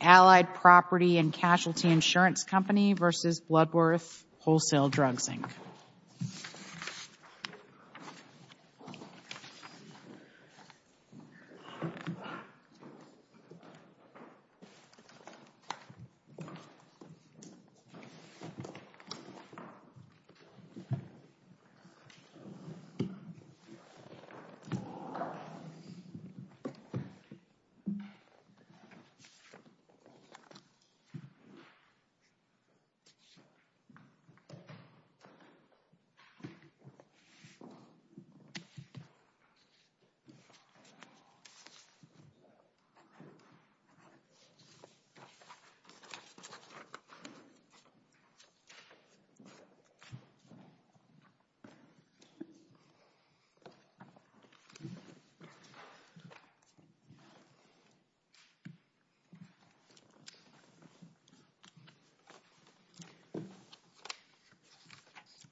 Allied Property & Casualty Insurance Company v. Bloodworth Wholesale Drugs Inc. Allied Property & Casualty Insurance Company v. Bloodworth Wholesale Drugs Inc.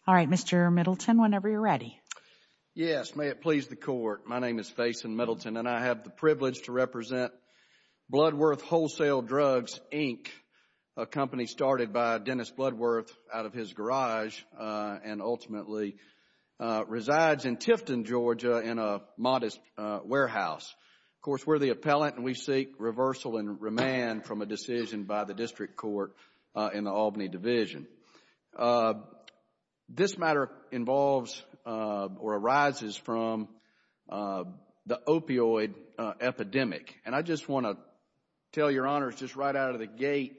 All right, Mr. Middleton, whenever you are ready. Yes. May it please the Court. My name is Faison Middleton, and I have the privilege to represent Bloodworth Wholesale Drugs Inc., a company started by Dennis Bloodworth out of his garage and ultimately resides in Tifton, Georgia, in a modest warehouse. Of course, we are the appellant, and we seek reversal and remand from a decision by the District Court in the Albany Division. This matter involves or arises from the opioid epidemic. And I just want to tell your Honors, just right out of the gate,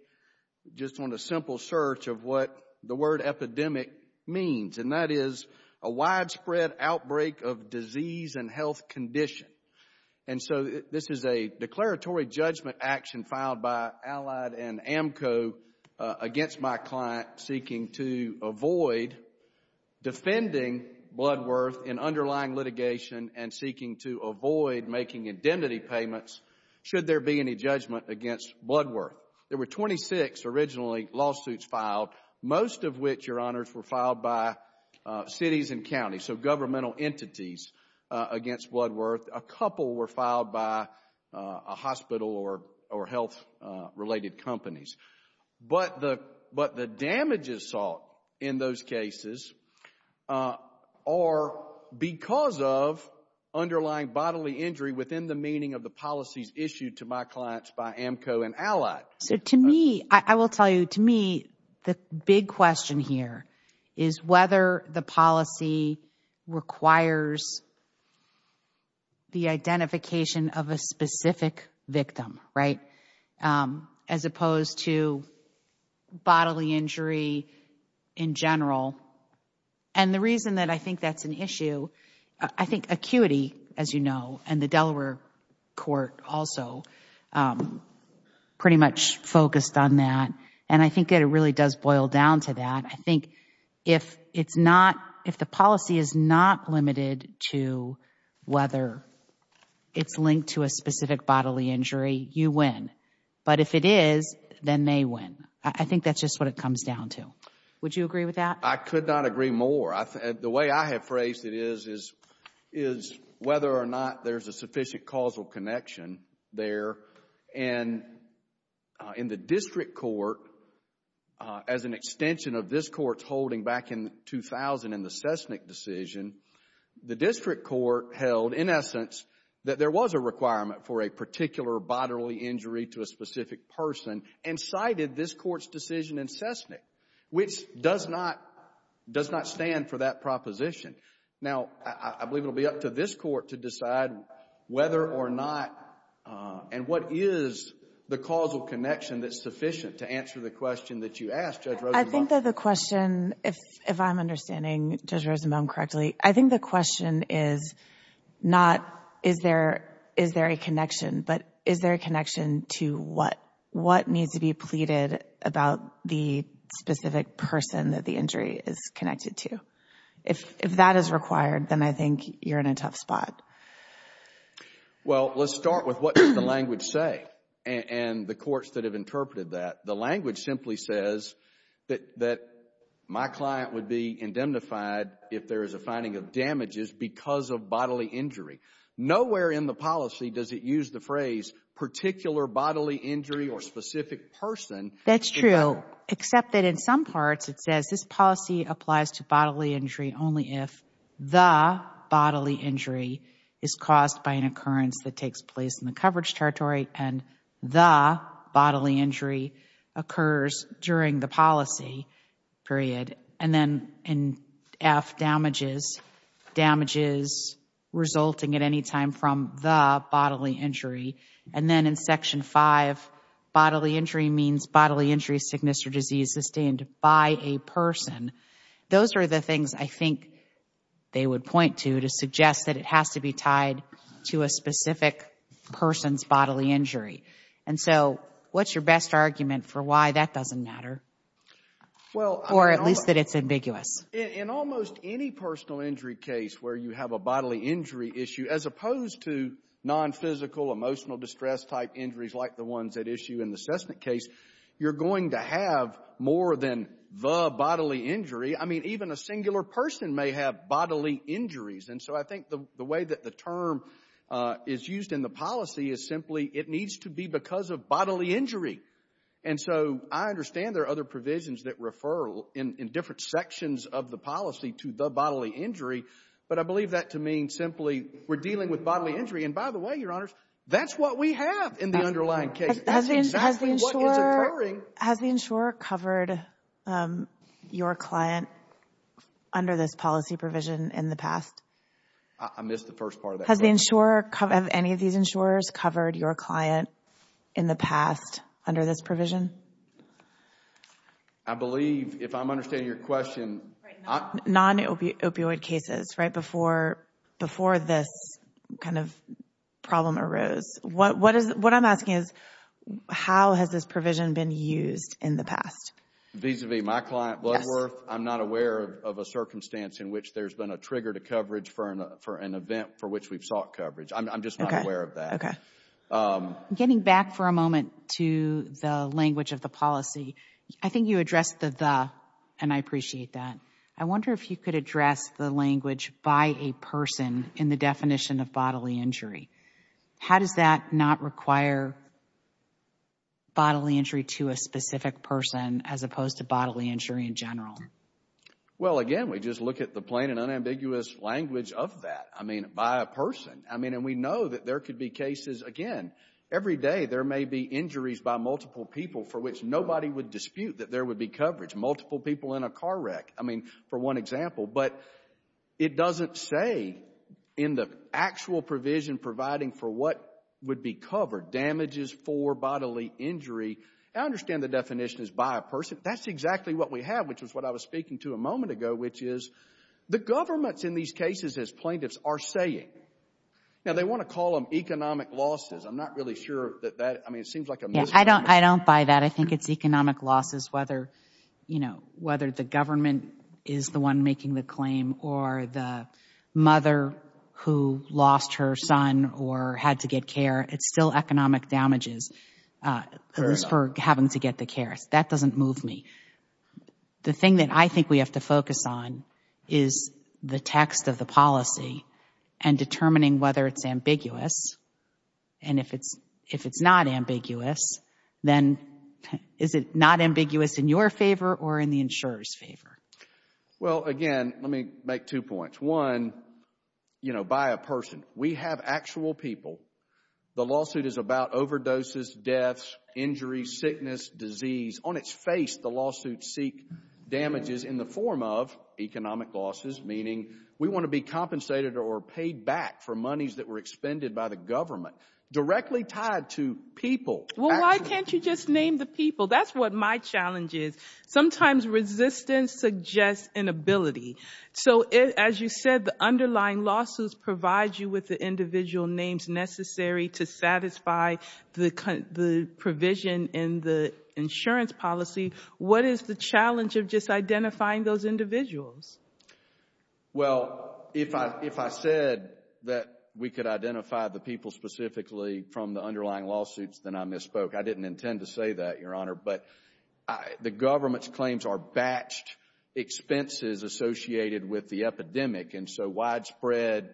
just on a simple search of what the word epidemic means, and that is a widespread outbreak of disease and health condition. And so this is a declaratory judgment action filed by Allied and AMCO against my client seeking to avoid defending Bloodworth in underlying litigation and seeking to avoid making indemnity payments should there be any judgment against Bloodworth. There were 26 originally lawsuits filed, most of which, your Honors, were filed by cities and counties, so governmental entities against Bloodworth. A couple were filed by a hospital or health-related companies. But the damages sought in those cases are because of underlying bodily injury within the meaning of the policies issued to my clients by AMCO and Allied. So to me, I will tell you, to me, the big question here is whether the policy requires the identification of a specific victim, right, as opposed to bodily injury in general. And the reason that I think that's an issue, I think acuity, as you know, and the Delaware Court also pretty much focused on that. And I think that it really does boil down to that. I think if it's not, if the policy is not limited to whether it's linked to a specific bodily injury, you win. But if it is, then they win. I think that's just what it comes down to. Would you agree with that? I could not agree more. The way I have phrased it is, is whether or not there's a sufficient causal connection there. And in the district court, as an extension of this court's holding back in 2000 in the Cessnick decision, the district court held, in essence, that there was a requirement for a particular bodily injury to a specific person and cited this court's decision in Cessnick, which does not, does not stand for that proposition. Now I believe it will be up to this court to decide whether or not, and what is the causal connection that's sufficient to answer the question that you asked Judge Rosenbaum. I think that the question, if I'm understanding Judge Rosenbaum correctly, I think the question is not, is there, is there a connection, but is there a connection to what, what needs to be pleaded about the specific person that the injury is connected to? If that is required, then I think you're in a tough spot. Well, let's start with what does the language say and the courts that have interpreted that. The language simply says that, that my client would be indemnified if there is a finding of damages because of bodily injury. Nowhere in the policy does it use the phrase particular bodily injury or specific person. That's true, except that in some parts it says this policy applies to bodily injury only if the bodily injury is caused by an occurrence that takes place in the coverage territory and the bodily injury occurs during the policy period. And then in F damages, damages resulting at any time from the bodily injury. And then in Section 5, bodily injury means bodily injury, sickness, or disease sustained by a person. Those are the things I think they would point to to suggest that it has to be tied to a specific person's bodily injury. And so, what's your best argument for why that doesn't matter, or at least that it's ambiguous? In almost any personal injury case where you have a bodily injury issue, as opposed to non-physical emotional distress type injuries like the ones at issue in the Cessna case, you're going to have more than the bodily injury. I mean, even a singular person may have bodily injuries. And so, I think the way that the term is used in the policy is simply it needs to be because of bodily injury. And so, I understand there are other provisions that refer in different sections of the policy to the bodily injury, but I believe that to mean simply we're dealing with bodily injury. And by the way, Your Honors, that's what we have in the underlying case. That's exactly what is occurring. Has the insurer covered your client under this policy provision in the past? I missed the first part of that question. Has the insurer, have any of these insurers covered your client in the past under this I believe, if I'm understanding your question... Non-opioid cases, right, before this kind of problem arose. What I'm asking is, how has this provision been used in the past? Vis-a-vis my client, Bloodworth, I'm not aware of a circumstance in which there's been a trigger to coverage for an event for which we've sought coverage. I'm just not aware of that. Getting back for a moment to the language of the policy, I think you addressed the the, and I appreciate that. I wonder if you could address the language by a person in the definition of bodily injury. How does that not require bodily injury to a specific person as opposed to bodily injury in general? Well, again, we just look at the plain and unambiguous language of that by a person. We know that there could be cases, again, every day there may be injuries by multiple people for which nobody would dispute that there would be coverage. Multiple people in a car wreck, for one example, but it doesn't say in the actual provision providing for what would be covered, damages for bodily injury. I understand the definition is by a person. That's exactly what we have, which is what I was speaking to a moment ago, which is the governments in these cases, as plaintiffs, are saying, now they want to call them economic losses. I'm not really sure that that, I mean, it seems like a misnomer. I don't buy that. I think it's economic losses whether, you know, whether the government is the one making the claim or the mother who lost her son or had to get care. It's still economic damages for having to get the care. That doesn't move me. The thing that I think we have to focus on is the text of the policy and determining whether it's ambiguous. And if it's not ambiguous, then is it not ambiguous in your favor or in the insurer's favor? Well, again, let me make two points. One, you know, by a person. We have actual people. The lawsuit is about overdoses, deaths, injuries, sickness, disease. On its face, the lawsuits seek damages in the form of economic losses, meaning we want to be compensated or paid back for monies that were expended by the government, directly tied to people. Well, why can't you just name the people? That's what my challenge is. Sometimes resistance suggests inability. So as you said, the underlying lawsuits provide you with the individual names necessary to satisfy the provision in the insurance policy. What is the challenge of just identifying those individuals? Well, if I said that we could identify the people specifically from the underlying lawsuits, then I misspoke. I didn't intend to say that, Your Honor. But the government's claims are batched expenses associated with the epidemic. And so widespread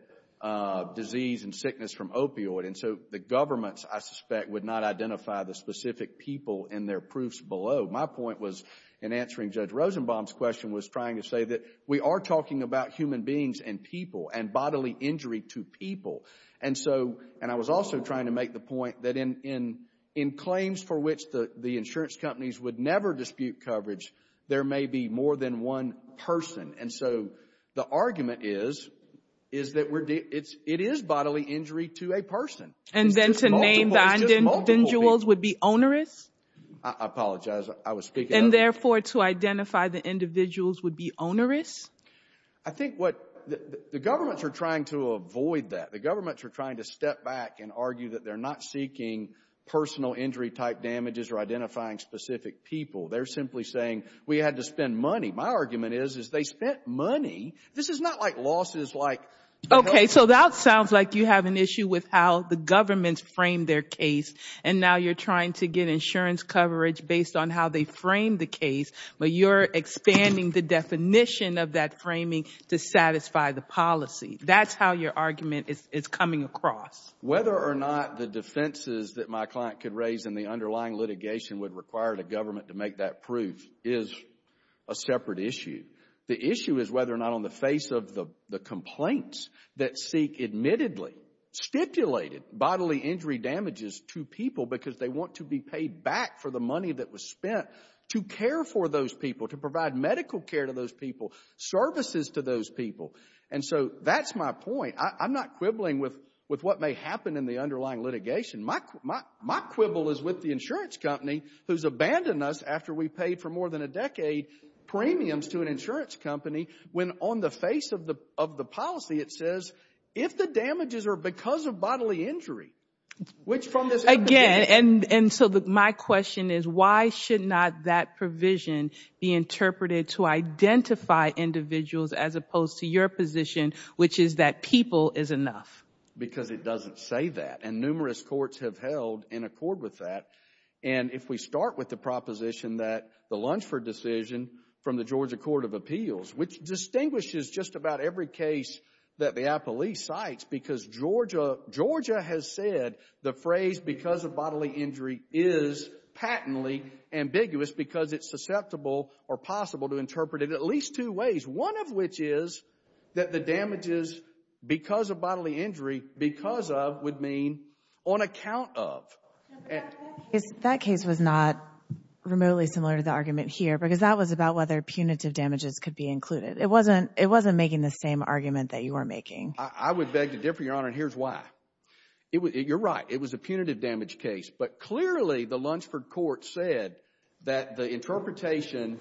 disease and sickness from opioid. And so the government, I suspect, would not identify the specific people in their proofs My point was, in answering Judge Rosenbaum's question, was trying to say that we are talking about human beings and people and bodily injury to people. And so, and I was also trying to make the point that in claims for which the insurance companies would never dispute coverage, there may be more than one person. And so the argument is, is that it is bodily injury to a person. And then to name the individuals would be onerous? I apologize. I was speaking up. And therefore, to identify the individuals would be onerous? I think what the governments are trying to avoid that. The governments are trying to step back and argue that they're not seeking personal injury type damages or identifying specific people. They're simply saying, we had to spend money. My argument is, is they spent money. This is not like losses, like... Okay. So that sounds like you have an issue with how the governments frame their case. And now you're trying to get insurance coverage based on how they frame the case, but you're expanding the definition of that framing to satisfy the policy. That's how your argument is coming across. Whether or not the defenses that my client could raise in the underlying litigation would require the government to make that proof is a separate issue. The issue is whether or not on the face of the complaints that seek admittedly stipulated bodily injury damages to people because they want to be paid back for the money that was spent to care for those people, to provide medical care to those people, services to those people. And so that's my point. I'm not quibbling with what may happen in the underlying litigation. My quibble is with the insurance company who's abandoned us after we've paid for more than a decade premiums to an insurance company when on the face of the policy it says, if the damages are because of bodily injury, which from this... Again. And so my question is, why should not that provision be interpreted to identify individuals as opposed to your position, which is that people is enough? Because it doesn't say that. And numerous courts have held in accord with that. And if we start with the proposition that the Lunsford decision from the Georgia Court of Appeals, which distinguishes just about every case that the Appellee cites because Georgia has said the phrase because of bodily injury is patently ambiguous because it's susceptible or possible to interpret it at least two ways. One of which is that the damages because of bodily injury, because of, would mean on account of. That case was not remotely similar to the argument here because that was about whether punitive damages could be included. It wasn't making the same argument that you were making. I would beg to differ, Your Honor, and here's why. You're right. It was a punitive damage case, but clearly the Lunsford court said that the interpretation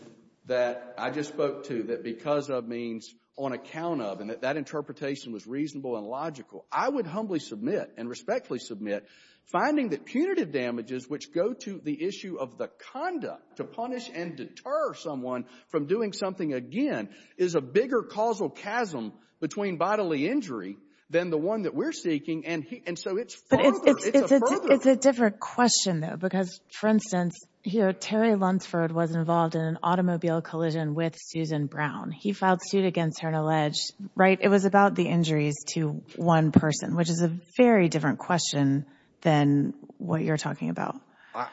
that I just spoke to, that because of means on account of, and that that interpretation was reasonable and logical. I would humbly submit and respectfully submit finding that punitive damages, which go to the issue of the conduct to punish and deter someone from doing something again, is a bigger causal chasm between bodily injury than the one that we're seeking. And so it's further. It's a further. I have a question though, because for instance, here, Terry Lunsford was involved in an automobile collision with Susan Brown. He filed suit against her and alleged, right, it was about the injuries to one person, which is a very different question than what you're talking about.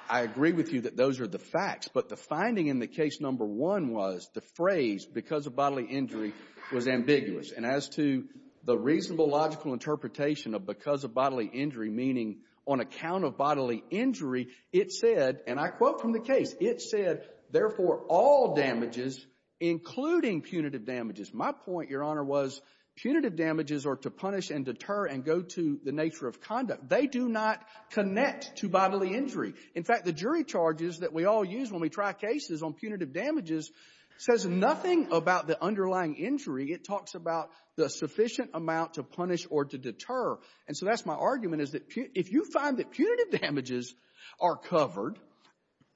I agree with you that those are the facts, but the finding in the case number one was the phrase because of bodily injury was ambiguous. And as to the reasonable, logical interpretation of because of bodily injury, meaning on account of bodily injury, it said, and I quote from the case, it said, therefore, all damages, including punitive damages. My point, Your Honor, was punitive damages are to punish and deter and go to the nature of conduct. They do not connect to bodily injury. In fact, the jury charges that we all use when we try cases on punitive damages says nothing about the underlying injury. It talks about the sufficient amount to punish or to deter. And so that's my argument, is that if you find that punitive damages are covered,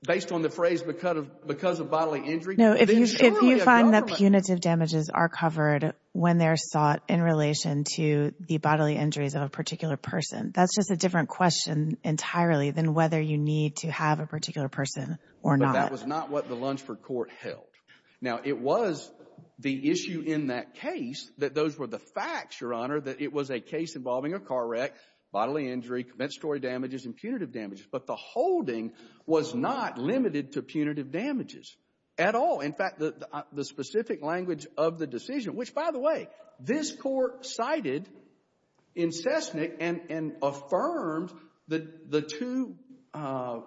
based on the phrase because of bodily injury, then surely a government— No, if you find that punitive damages are covered when they're sought in relation to the bodily injuries of a particular person, that's just a different question entirely than whether you need to have a particular person or not. But that was not what the Lunsford court held. Now, it was the issue in that case that those were the facts, Your Honor, that it was a case involving a car wreck, bodily injury, commensurate damages and punitive damages. But the holding was not limited to punitive damages at all. In fact, the specific language of the decision, which, by the way, this court cited in Sessnick and affirmed the two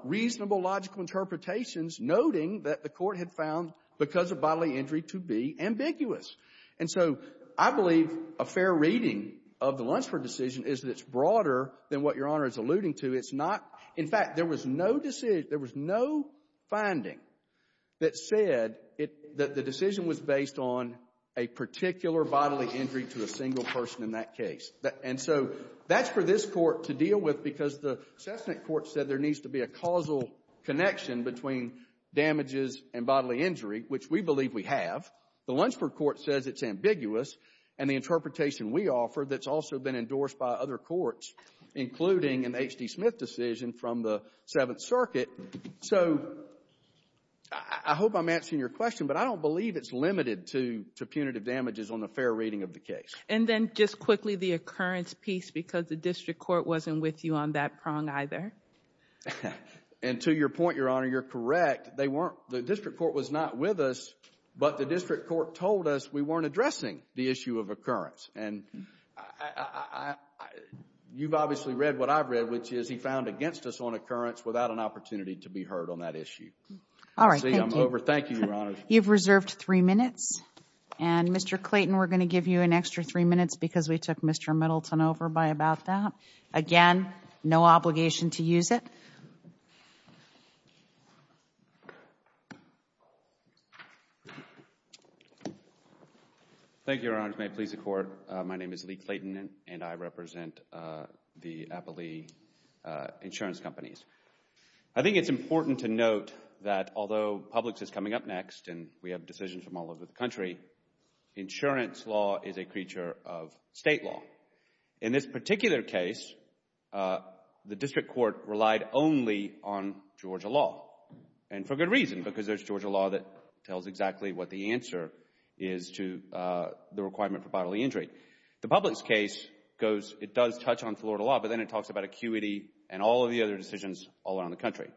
reasonable logical interpretations, noting that the court had found because of bodily injury to be ambiguous. And so I believe a fair reading of the Lunsford decision is that it's broader than what Your Honor is alluding to. It's not — in fact, there was no decision — there was no finding that said that the decision was based on a particular bodily injury to a single person in that case. And so that's for this court to deal with because the Sessnick court said there needs to be a causal connection between damages and bodily injury, which we believe we have. The Lunsford court says it's ambiguous. And the interpretation we offer that's also been endorsed by other courts, including an H.D. Smith decision from the Seventh Circuit. So I hope I'm answering your question, but I don't believe it's limited to punitive damages on a fair reading of the case. And then just quickly, the occurrence piece, because the district court wasn't with you on that prong either. And to your point, Your Honor, you're correct. They weren't — the district court was not with us, but the district court told us we weren't addressing the issue of occurrence. And I — you've obviously read what I've read, which is he found against us on occurrence without an opportunity to be heard on that issue. All right. Thank you. See, I'm over. Thank you, Your Honor. You've reserved three minutes. And, Mr. Clayton, we're going to give you an extra three minutes because we took Mr. Middleton over by about that. Again, no obligation to use it. Thank you, Your Honor. Thank you, Your Honor. As may please the Court, my name is Lee Clayton, and I represent the Applee insurance companies. I think it's important to note that although Publix is coming up next and we have decisions from all over the country, insurance law is a creature of state law. In this particular case, the district court relied only on Georgia law. And for good reason, because there's Georgia law that tells exactly what the answer is to the requirement for bodily injury. The Publix case goes — it does touch on Florida law, but then it talks about acuity and all of the other decisions all around the country.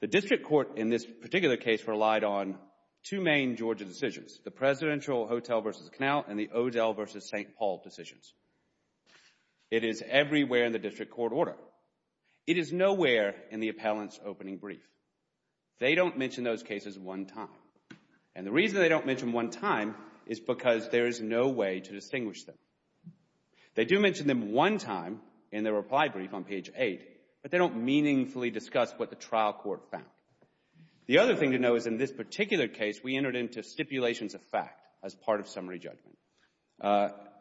The district court in this particular case relied on two main Georgia decisions, the Presidential Hotel v. Canal and the Odell v. St. Paul decisions. It is everywhere in the district court order. It is nowhere in the appellant's opening brief. They don't mention those cases one time. And the reason they don't mention them one time is because there is no way to distinguish them. They do mention them one time in their reply brief on page 8, but they don't meaningfully discuss what the trial court found. The other thing to note is in this particular case, we entered into stipulations of fact as part of summary judgment.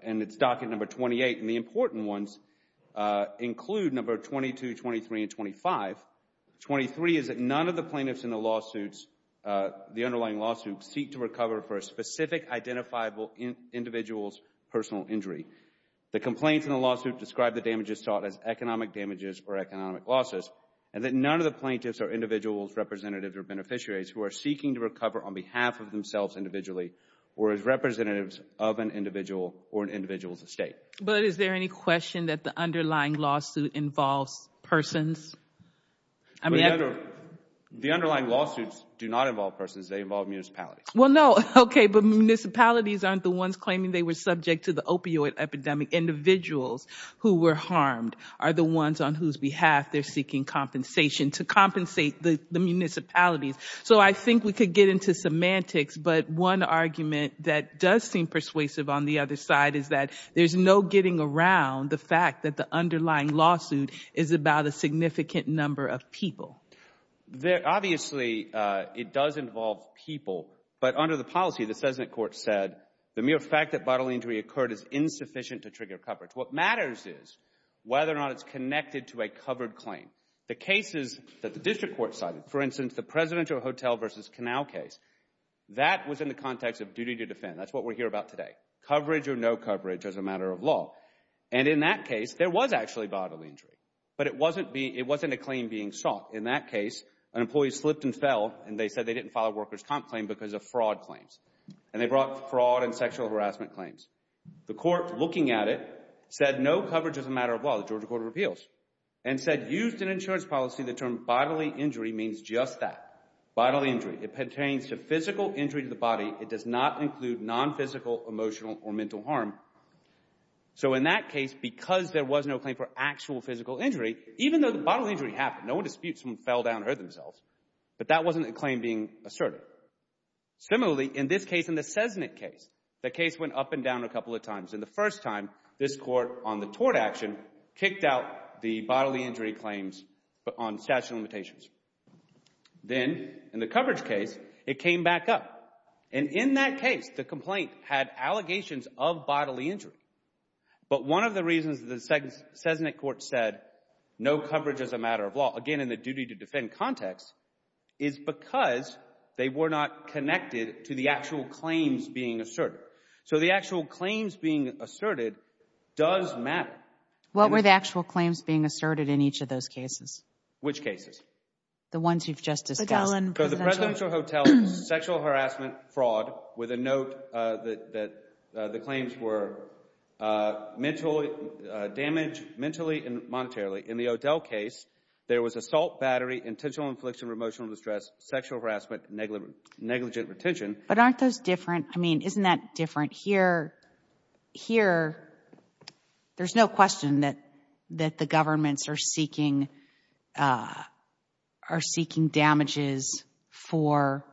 And it's docket number 28. And the important ones include number 22, 23, and 25. 23 is that none of the plaintiffs in the lawsuits — the underlying lawsuits — seek to recover for a specific identifiable individual's personal injury. The complaints in the lawsuit describe the damages sought as economic damages or economic losses. And that none of the plaintiffs are individuals, representatives, or beneficiaries who are seeking to recover on behalf of themselves individually or as representatives of an individual or an individual's estate. But is there any question that the underlying lawsuit involves persons? The underlying lawsuits do not involve persons. They involve municipalities. Well, no. Okay. But municipalities aren't the ones claiming they were subject to the opioid epidemic. Individuals who were harmed are the ones on whose behalf they're seeking compensation to compensate the municipalities. So I think we could get into semantics. But one argument that does seem persuasive on the other side is that there's no getting around the fact that the underlying lawsuit is about a significant number of people. Obviously, it does involve people. But under the policy, the Sesnate court said the mere fact that bodily injury occurred is insufficient to trigger coverage. What matters is whether or not it's connected to a covered claim. The cases that the district court cited, for instance, the Presidential Hotel v. Canal case, that was in the context of duty to defend. That's what we're here about today. Coverage or no coverage as a matter of law. And in that case, there was actually bodily injury. But it wasn't a claim being sought. In that case, an employee slipped and fell, and they said they didn't file a worker's comp claim because of fraud claims. And they brought fraud and sexual harassment claims. The court, looking at it, said no coverage as a matter of law. The Georgia court of appeals. And said, used in insurance policy, the term bodily injury means just that. Bodily injury. It pertains to physical injury to the body. It does not include non-physical, emotional, or mental harm. So in that case, because there was no claim for actual physical injury, even though the bodily injury happened, no one disputes someone fell down and hurt themselves. But that wasn't a claim being asserted. Similarly, in this case, in the Sesnate case, the case went up and down a couple of times. And the first time, this court, on the tort action, kicked out the bodily injury claims on statute of limitations. Then, in the coverage case, it came back up. And in that case, the complaint had allegations of bodily injury. But one of the reasons the Sesnate court said no coverage as a matter of law, again in the duty to defend context, is because they were not connected to the actual claims being asserted. So the actual claims being asserted does matter. What were the actual claims being asserted in each of those cases? Which cases? The ones you've just discussed. The presidential hotel, sexual harassment, fraud, with a note that the claims were damage mentally and monetarily. In the O'Dell case, there was assault, battery, intentional infliction of emotional distress, sexual harassment, negligent retention. But aren't those different? I mean, isn't that different here? Here, there's no question that the governments are seeking damages for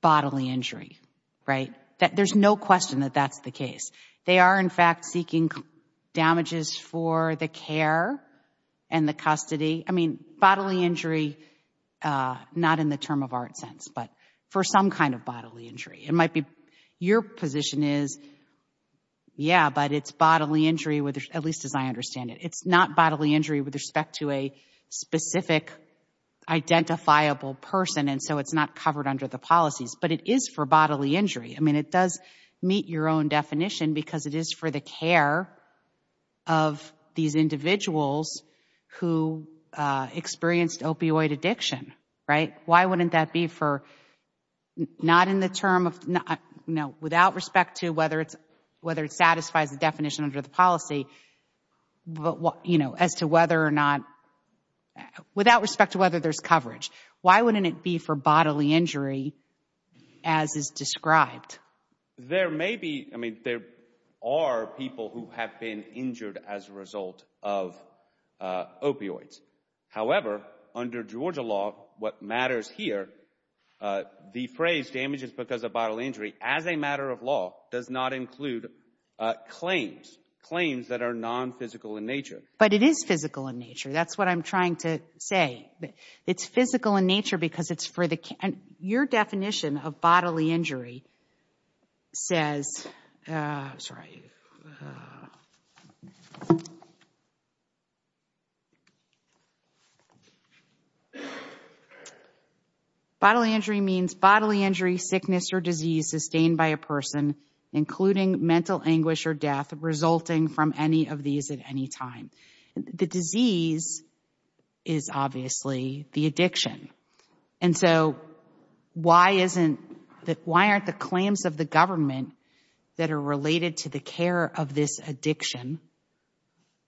bodily injury, right? There's no question that that's the case. They are, in fact, seeking damages for the care and the custody. I mean, bodily injury, not in the term of art sense, but for some kind of bodily injury. Your position is, yeah, but it's bodily injury, at least as I understand it. It's not bodily injury with respect to a specific identifiable person, and so it's not covered under the policies. But it is for bodily injury. I mean, it does meet your own definition, because it is for the care of these individuals who experienced opioid addiction, right? Why wouldn't that be for, not in the term of, no, without respect to whether it satisfies the definition under the policy, but as to whether or not, without respect to whether there's coverage, why wouldn't it be for bodily injury as is described? There may be, I mean, there are people who have been injured as a result of opioids. However, under Georgia law, what matters here, the phrase damages because of bodily injury as a matter of law does not include claims, claims that are non-physical in nature. But it is physical in nature. That's what I'm trying to say. It's physical in nature because it's for the care. And your definition of bodily injury says, bodily injury means bodily injury, sickness or disease sustained by a person, including mental anguish or death, resulting from any of these at any time. The disease is obviously the addiction. And so, why aren't the claims of the government that are related to the care of this addiction,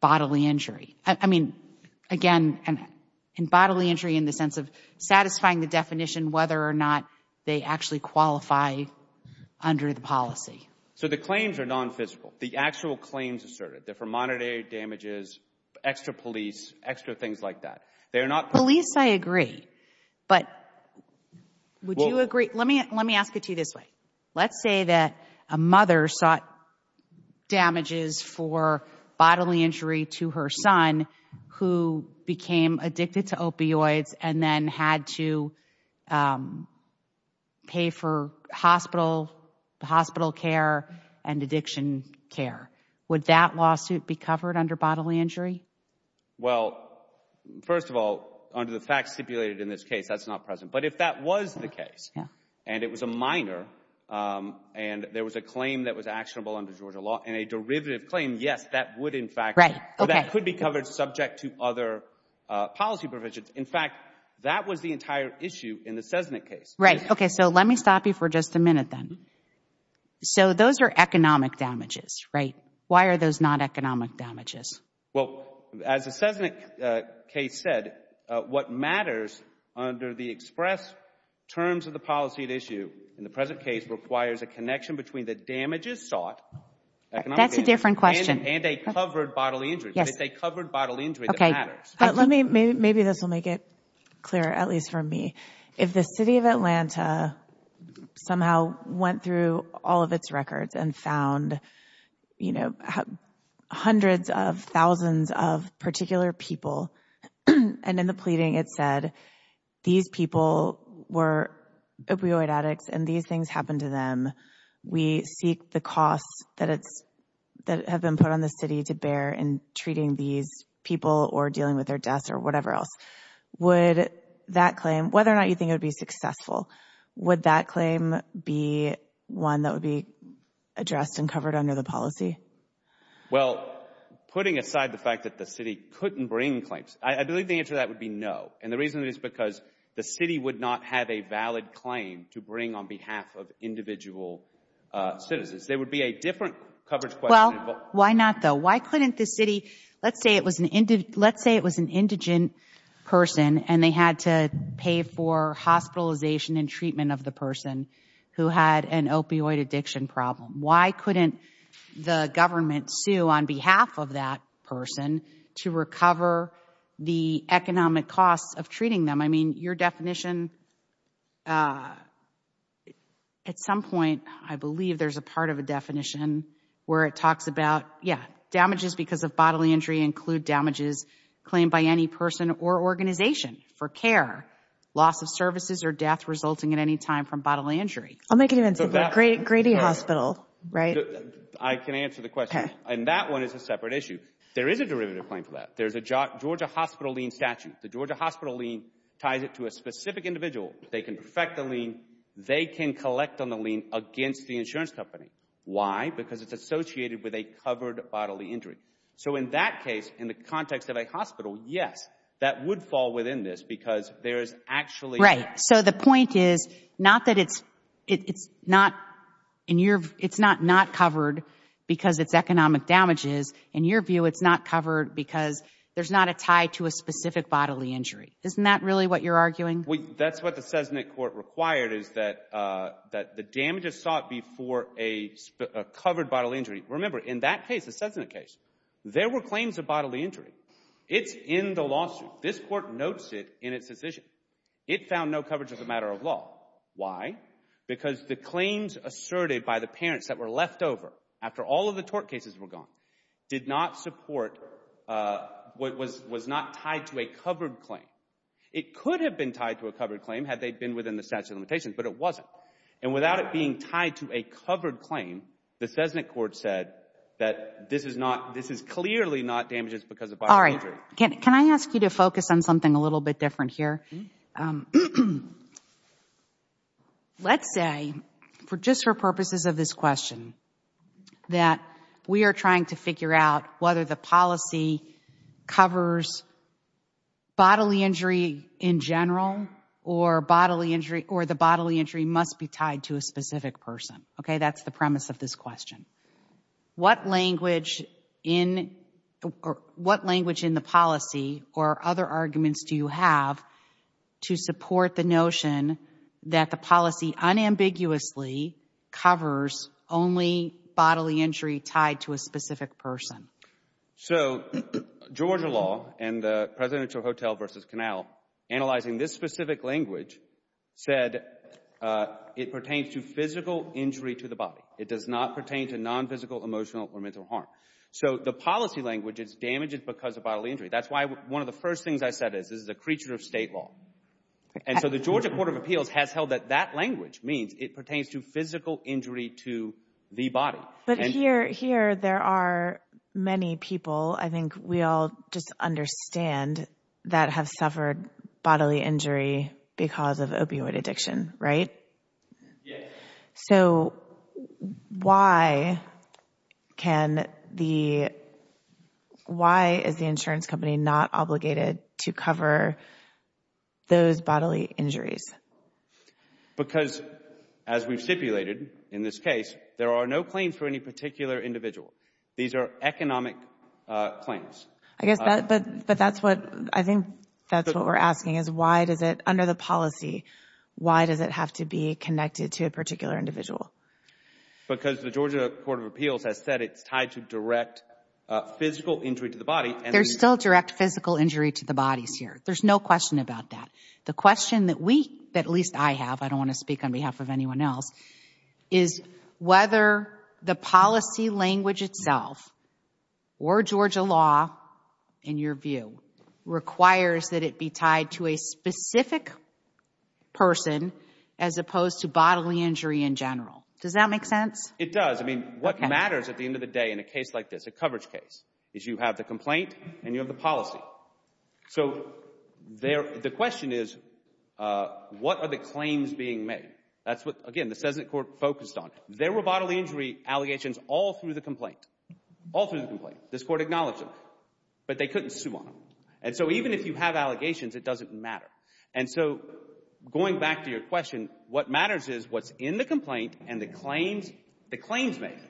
bodily injury? I mean, again, in bodily injury in the sense of satisfying the definition whether or not they actually qualify under the policy. So the claims are non-physical. The actual claims asserted, they're for monetary damages, extra police, extra things like that. Police, I agree. But would you agree, let me ask it to you this way. Let's say that a mother sought damages for bodily injury to her son who became addicted to opioids and then had to pay for hospital care and addiction care. Would that lawsuit be covered under bodily injury? Well, first of all, under the facts stipulated in this case, that's not present. But if that was the case and it was a minor and there was a claim that was actionable under Georgia law and a derivative claim, yes, that would in fact, that could be covered subject to other policy provisions. In fact, that was the entire issue in the Cessnick case. Right. Okay, so let me stop you for just a minute then. So those are economic damages, right? Why are those not economic damages? Well, as the Cessnick case said, what matters under the express terms of the policy at issue in the present case requires a connection between the damages sought, economic damages. That's a different question. And a covered bodily injury. Yes. But it's a covered bodily injury that matters. But let me, maybe this will make it clear, at least for me, if the city of Atlanta somehow went through all of its records and found, you know, hundreds of thousands of particular people and in the pleading it said, these people were opioid addicts and these things happened to them. We seek the costs that have been put on the city to bear in treating these people or dealing with their deaths or whatever else. Would that claim, whether or not you think it would be successful, would that claim be one that would be addressed and covered under the policy? Well, putting aside the fact that the city couldn't bring claims, I believe the answer to that would be no. And the reason is because the city would not have a valid claim to bring on behalf of individual citizens. There would be a different coverage question. Well, why not though? Why couldn't the city, let's say it was an indigent person and they had to pay for hospitalization and treatment of the person who had an opioid addiction problem. Why couldn't the government sue on behalf of that person to recover the economic costs of treating them? I mean, your definition, at some point I believe there's a part of a definition where it talks about, yeah, damages because of bodily injury include damages claimed by any person or organization for care, loss of services or death resulting in any time from bodily injury. I'll make it even simpler. Grady Hospital, right? I can answer the question. And that one is a separate issue. There is a derivative claim for that. There's a Georgia hospital lien statute. The Georgia hospital lien ties it to a specific individual. They can perfect the lien. They can collect on the lien against the insurance company. Why? Because it's associated with a covered bodily injury. So in that case, in the context of a hospital, yes, that would fall within this because there is actually- So the point is not that it's not covered because it's economic damages. In your view, it's not covered because there's not a tie to a specific bodily injury. Isn't that really what you're arguing? That's what the Cessnit court required is that the damages sought before a covered bodily injury. Remember, in that case, the Cessnit case, there were claims of bodily injury. It's in the lawsuit. This court notes it in its decision. It found no coverage as a matter of law. Why? Because the claims asserted by the parents that were left over after all of the tort cases were gone did not support- Was not tied to a covered claim. It could have been tied to a covered claim had they been within the statute of limitations, but it wasn't. And without it being tied to a covered claim, the Cessnit court said that this is clearly not damages because of bodily injury. Can I ask you to focus on something a little bit different here? Let's say, just for purposes of this question, that we are trying to figure out whether the policy covers bodily injury in general or the bodily injury must be tied to a specific person. Okay? That's the premise of this question. What language in the policy or other arguments do you have to support the notion that the policy unambiguously covers only bodily injury tied to a specific person? So, Georgia law and the presidential hotel versus canal analyzing this specific language said it pertains to physical injury to the body. It does not pertain to non-physical, emotional, or mental harm. So the policy language is damages because of bodily injury. That's why one of the first things I said is this is a creature of state law. And so the Georgia Court of Appeals has held that that language means it pertains to physical injury to the body. But here there are many people, I think we all just understand, that have suffered bodily injury because of opioid addiction, right? So why is the insurance company not obligated to cover those bodily injuries? Because, as we've stipulated in this case, there are no claims for any particular individual. These are economic claims. I guess, but that's what, I think that's what we're asking is why does it, under the policy, why does it have to be connected to a particular individual? Because the Georgia Court of Appeals has said it's tied to direct physical injury to the body. There's still direct physical injury to the bodies here. There's no question about that. The question that we, at least I have, I don't want to speak on behalf of anyone else, is whether the policy language itself or Georgia law, in your view, requires that it be tied to a specific person as opposed to bodily injury in general. Does that make sense? It does. I mean, what matters at the end of the day in a case like this, a coverage case, is you have the complaint and you have the policy. So the question is what are the claims being made? That's what, again, the Cessnick Court focused on. There were bodily injury allegations all through the complaint, all through the complaint. This Court acknowledged them. But they couldn't sue on them. And so even if you have allegations, it doesn't matter. And so going back to your question, what matters is what's in the complaint and the claims made,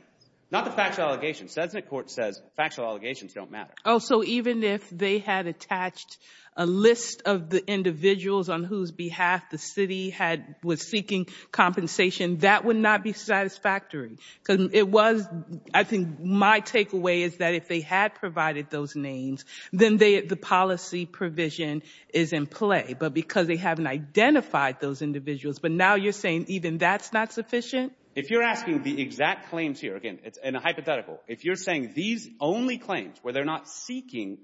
not the factual allegations. Cessnick Court says factual allegations don't matter. Oh, so even if they had attached a list of the individuals on whose behalf the city had was seeking compensation, that would not be satisfactory because it was, I think my takeaway is that if they had provided those names, then the policy provision is in play. But because they haven't identified those individuals, but now you're saying even that's not sufficient? If you're asking the exact claims here, again, it's a hypothetical. If you're saying these only claims where they're not seeking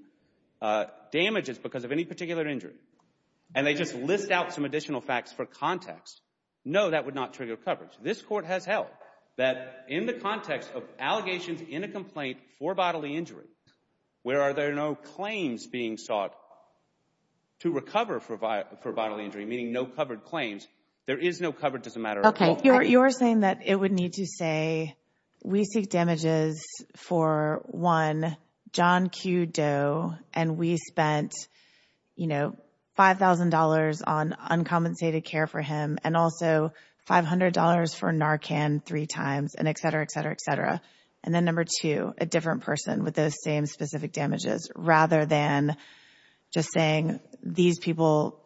damages because of any particular injury and they just list out some additional facts for context, no, that would not trigger coverage. This Court has held that in the context of allegations in a complaint for bodily injury where are there no claims being sought to recover for bodily injury, meaning no covered claims, there is no coverage as a matter of fact. You're saying that it would need to say, we seek damages for one, John Q. Doe, and we spent $5,000 on uncompensated care for him, and also $500 for Narcan three times, and et cetera, et cetera, et cetera. And then number two, a different person with those same specific damages, rather than just saying these people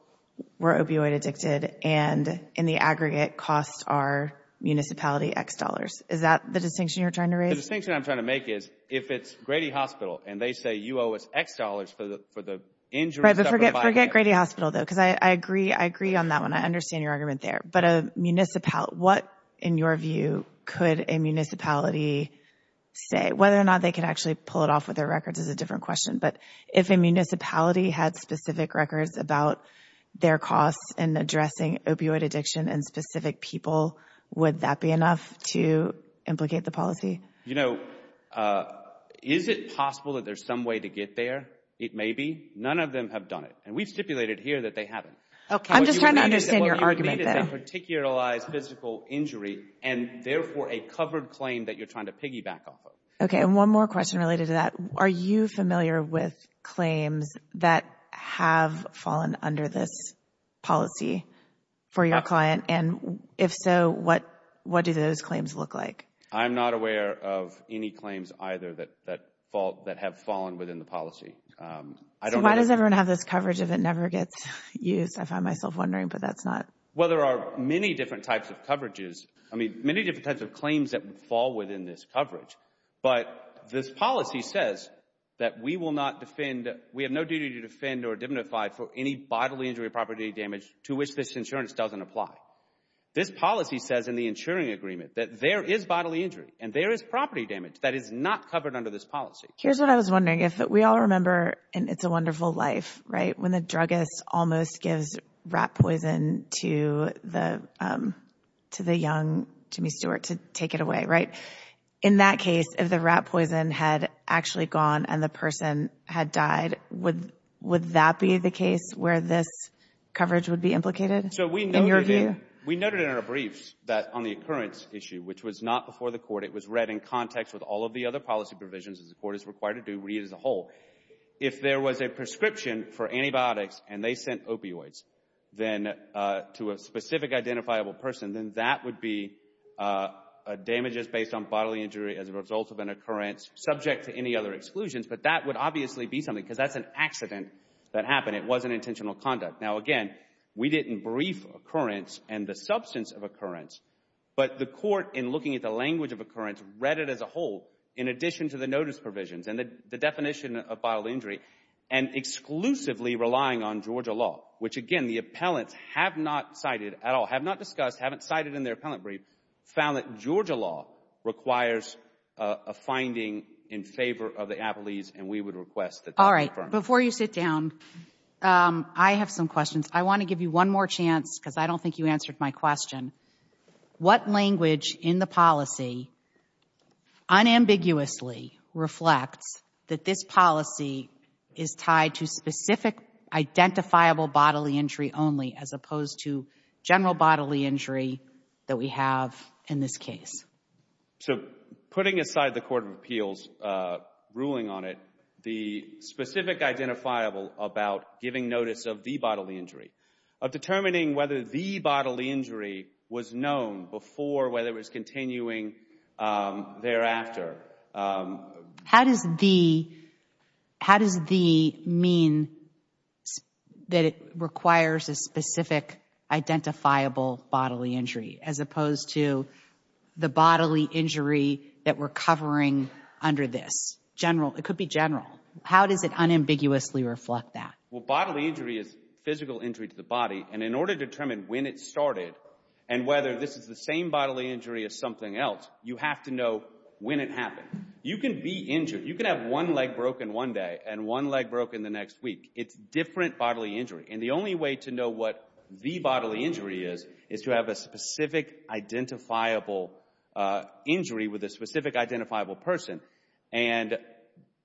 were opioid addicted, and in the aggregate costs are municipality X dollars. Is that the distinction you're trying to raise? The distinction I'm trying to make is, if it's Grady Hospital and they say you owe us X dollars for the injury and stuff for the bodily injury. Forget Grady Hospital, though, because I agree on that one. I understand your argument there. But what, in your view, could a municipality say? Whether or not they could actually pull it off with their records is a different question. But if a municipality had specific records about their costs in addressing opioid addiction in specific people, would that be enough to implicate the policy? You know, is it possible that there's some way to get there? It may be. None of them have done it. And we've stipulated here that they haven't. I'm just trying to understand your argument, though. What you would need is a particularized physical injury, and therefore a covered claim that you're trying to piggyback off of. Okay. And one more question related to that. Are you familiar with claims that have fallen under this policy for your client? And if so, what do those claims look like? I'm not aware of any claims either that have fallen within the policy. I don't know. So why does everyone have this coverage if it never gets used, I find myself wondering. But that's not... Well, there are many different types of coverages. I mean, many different types of claims that fall within this coverage. But this policy says that we will not defend... We have no duty to defend or dignify for any bodily injury or property damage to which this insurance doesn't apply. This policy says in the insuring agreement that there is bodily injury and there is property damage that is not covered under this policy. Here's what I was wondering. If we all remember in It's a Wonderful Life, right, when the druggist almost gives rat poison to the young Jimmy Stewart to take it away, right? In that case, if the rat poison had actually gone and the person had died, would that be the case where this coverage would be implicated in your view? We noted in our briefs that on the occurrence issue, which was not before the court, it was read in context with all of the other policy provisions that the court is required to do, read as a whole. If there was a prescription for antibiotics and they sent opioids then to a specific identifiable person, then that would be damages based on bodily injury as a result of an occurrence subject to any other exclusions. But that would obviously be something because that's an accident that happened. It wasn't intentional conduct. Now again, we didn't brief occurrence and the substance of occurrence. But the court, in looking at the language of occurrence, read it as a whole in addition to the notice provisions and the definition of bodily injury and exclusively relying on Georgia law. Which again, the appellants have not cited at all, have not discussed, haven't cited in their appellant brief, found that Georgia law requires a finding in favor of the Applees and we would request that that be confirmed. Before you sit down, I have some questions. I want to give you one more chance because I don't think you answered my question. What language in the policy unambiguously reflects that this policy is tied to specific identifiable bodily injury only as opposed to general bodily injury that we have in this case? So, putting aside the Court of Appeals ruling on it, the specific identifiable about giving notice of the bodily injury, of determining whether the bodily injury was known before whether it was continuing thereafter. How does the, how does the mean that it requires a specific identifiable bodily injury as opposed to the bodily injury that we're covering under this? General, it could be general. How does it unambiguously reflect that? Well, bodily injury is physical injury to the body and in order to determine when it started and whether this is the same bodily injury as something else, you have to know when it happened. You can be injured. You can have one leg broken one day and one leg broken the next week. It's different bodily injury and the only way to know what the bodily injury is is to have a specific identifiable injury with a specific identifiable person and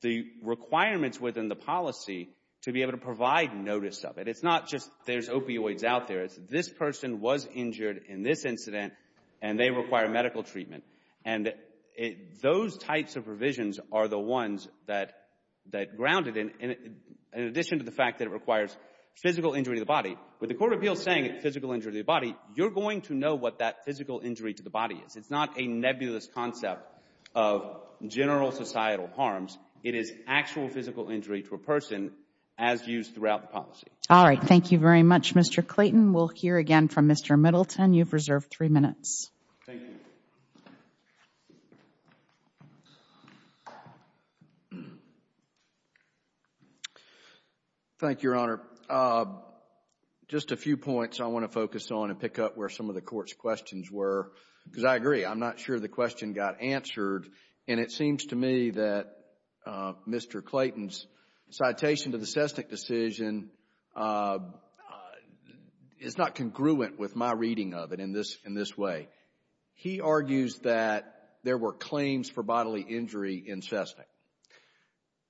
the requirements within the policy to be able to provide notice of it. It's not just there's opioids out there. This person was injured in this incident and they require medical treatment and those types of provisions are the ones that, that grounded in addition to the fact that it requires physical injury to the body. With the Court of Appeals saying it's physical injury to the body, you're going to know what that physical injury to the body is. It's not a nebulous concept of general societal harms. It is actual physical injury to a person as used throughout the policy. All right. Thank you very much, Mr. Clayton. We'll hear again from Mr. Middleton. You've reserved three minutes. Thank you. Thank you, Your Honor. Just a few points I want to focus on and pick up where some of the Court's questions were because I agree. I'm not sure the question got answered and it seems to me that Mr. Clayton's citation to the Cessnick decision is not congruent with my reading of it in this way. He argues that there were claims for bodily injury in Cessnick.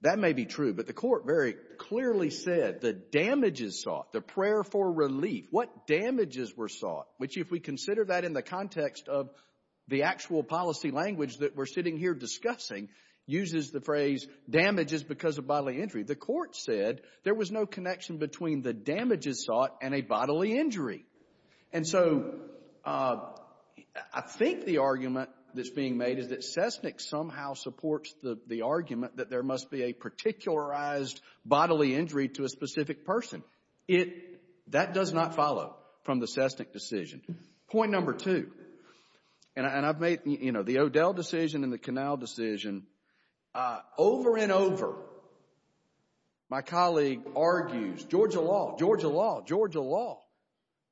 That may be true, but the Court very clearly said the damages sought, the prayer for relief, what damages were sought, which if we consider that in the context of the actual policy language that we're sitting here discussing, uses the phrase damages because of bodily injury. The Court said there was no connection between the damages sought and a bodily injury. And so I think the argument that's being made is that Cessnick somehow supports the argument that there must be a particularized bodily injury to a specific person. It, that does not follow from the Cessnick decision. Point number two, and I've made, you know, the O'Dell decision and the Canale decision. Over and over, my colleague argues, Georgia law, Georgia law, Georgia law,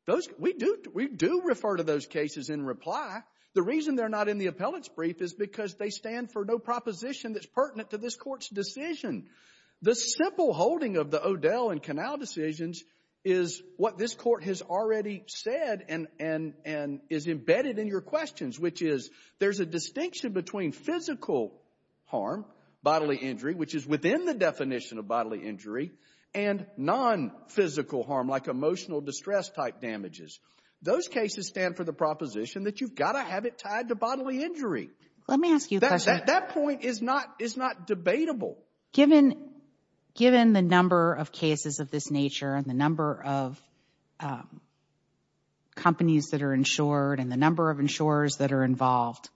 those, we do, we do refer to those cases in reply. The reason they're not in the appellate's brief is because they stand for no proposition that's pertinent to this Court's decision. The simple holding of the O'Dell and Canale decisions is what this Court has already said and, and, and is embedded in your questions, which is there's a distinction between physical harm, bodily injury, which is within the definition of bodily injury, and non-physical harm, like emotional distress type damages. Those cases stand for the proposition that you've got to have it tied to bodily injury. Let me ask you a question. That point is not, is not debatable. Given, given the number of cases of this nature and the number of companies that are insured and the number of insurers that are involved,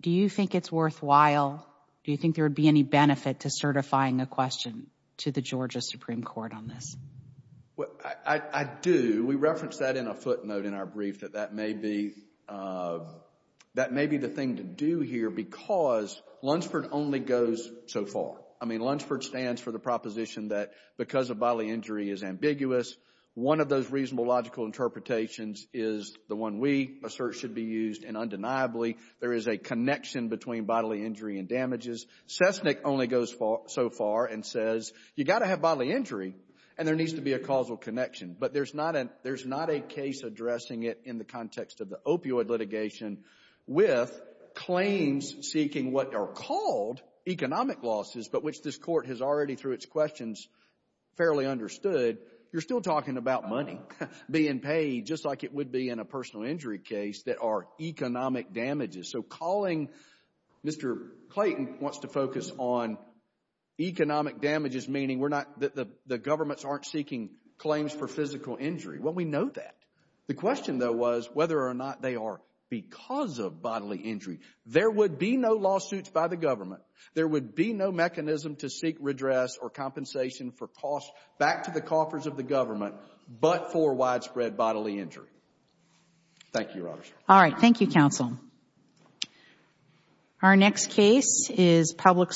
do you think it's worthwhile, do you think there would be any benefit to certifying a question to the Georgia Supreme Court on this? Well, I, I, I do. We reference that in a footnote in our brief that that may be, that may be the thing to do here because Lunsford only goes so far. I mean, Lunsford stands for the proposition that because of bodily injury is ambiguous. One of those reasonable logical interpretations is the one we assert should be used, and undeniably there is a connection between bodily injury and damages. Cessnick only goes so far and says you've got to have bodily injury and there needs to be a causal connection, but there's not a, there's not a case addressing it in the context of the opioid litigation with claims seeking what are called economic losses but which this court has already through its questions fairly understood. You're still talking about money being paid just like it would be in a personal injury case that are economic damages. So calling, Mr. Clayton wants to focus on economic damages, meaning we're not, the, the governments aren't seeking claims for physical injury. Well, we know that. The question though was whether or not they are because of bodily injury. There would be no lawsuits by the government. There would be no mechanism to seek redress or compensation for costs back to the coffers of the government but for widespread bodily injury. Thank you, Your Honor. All right. Thank you, counsel. Our next case is Public Service.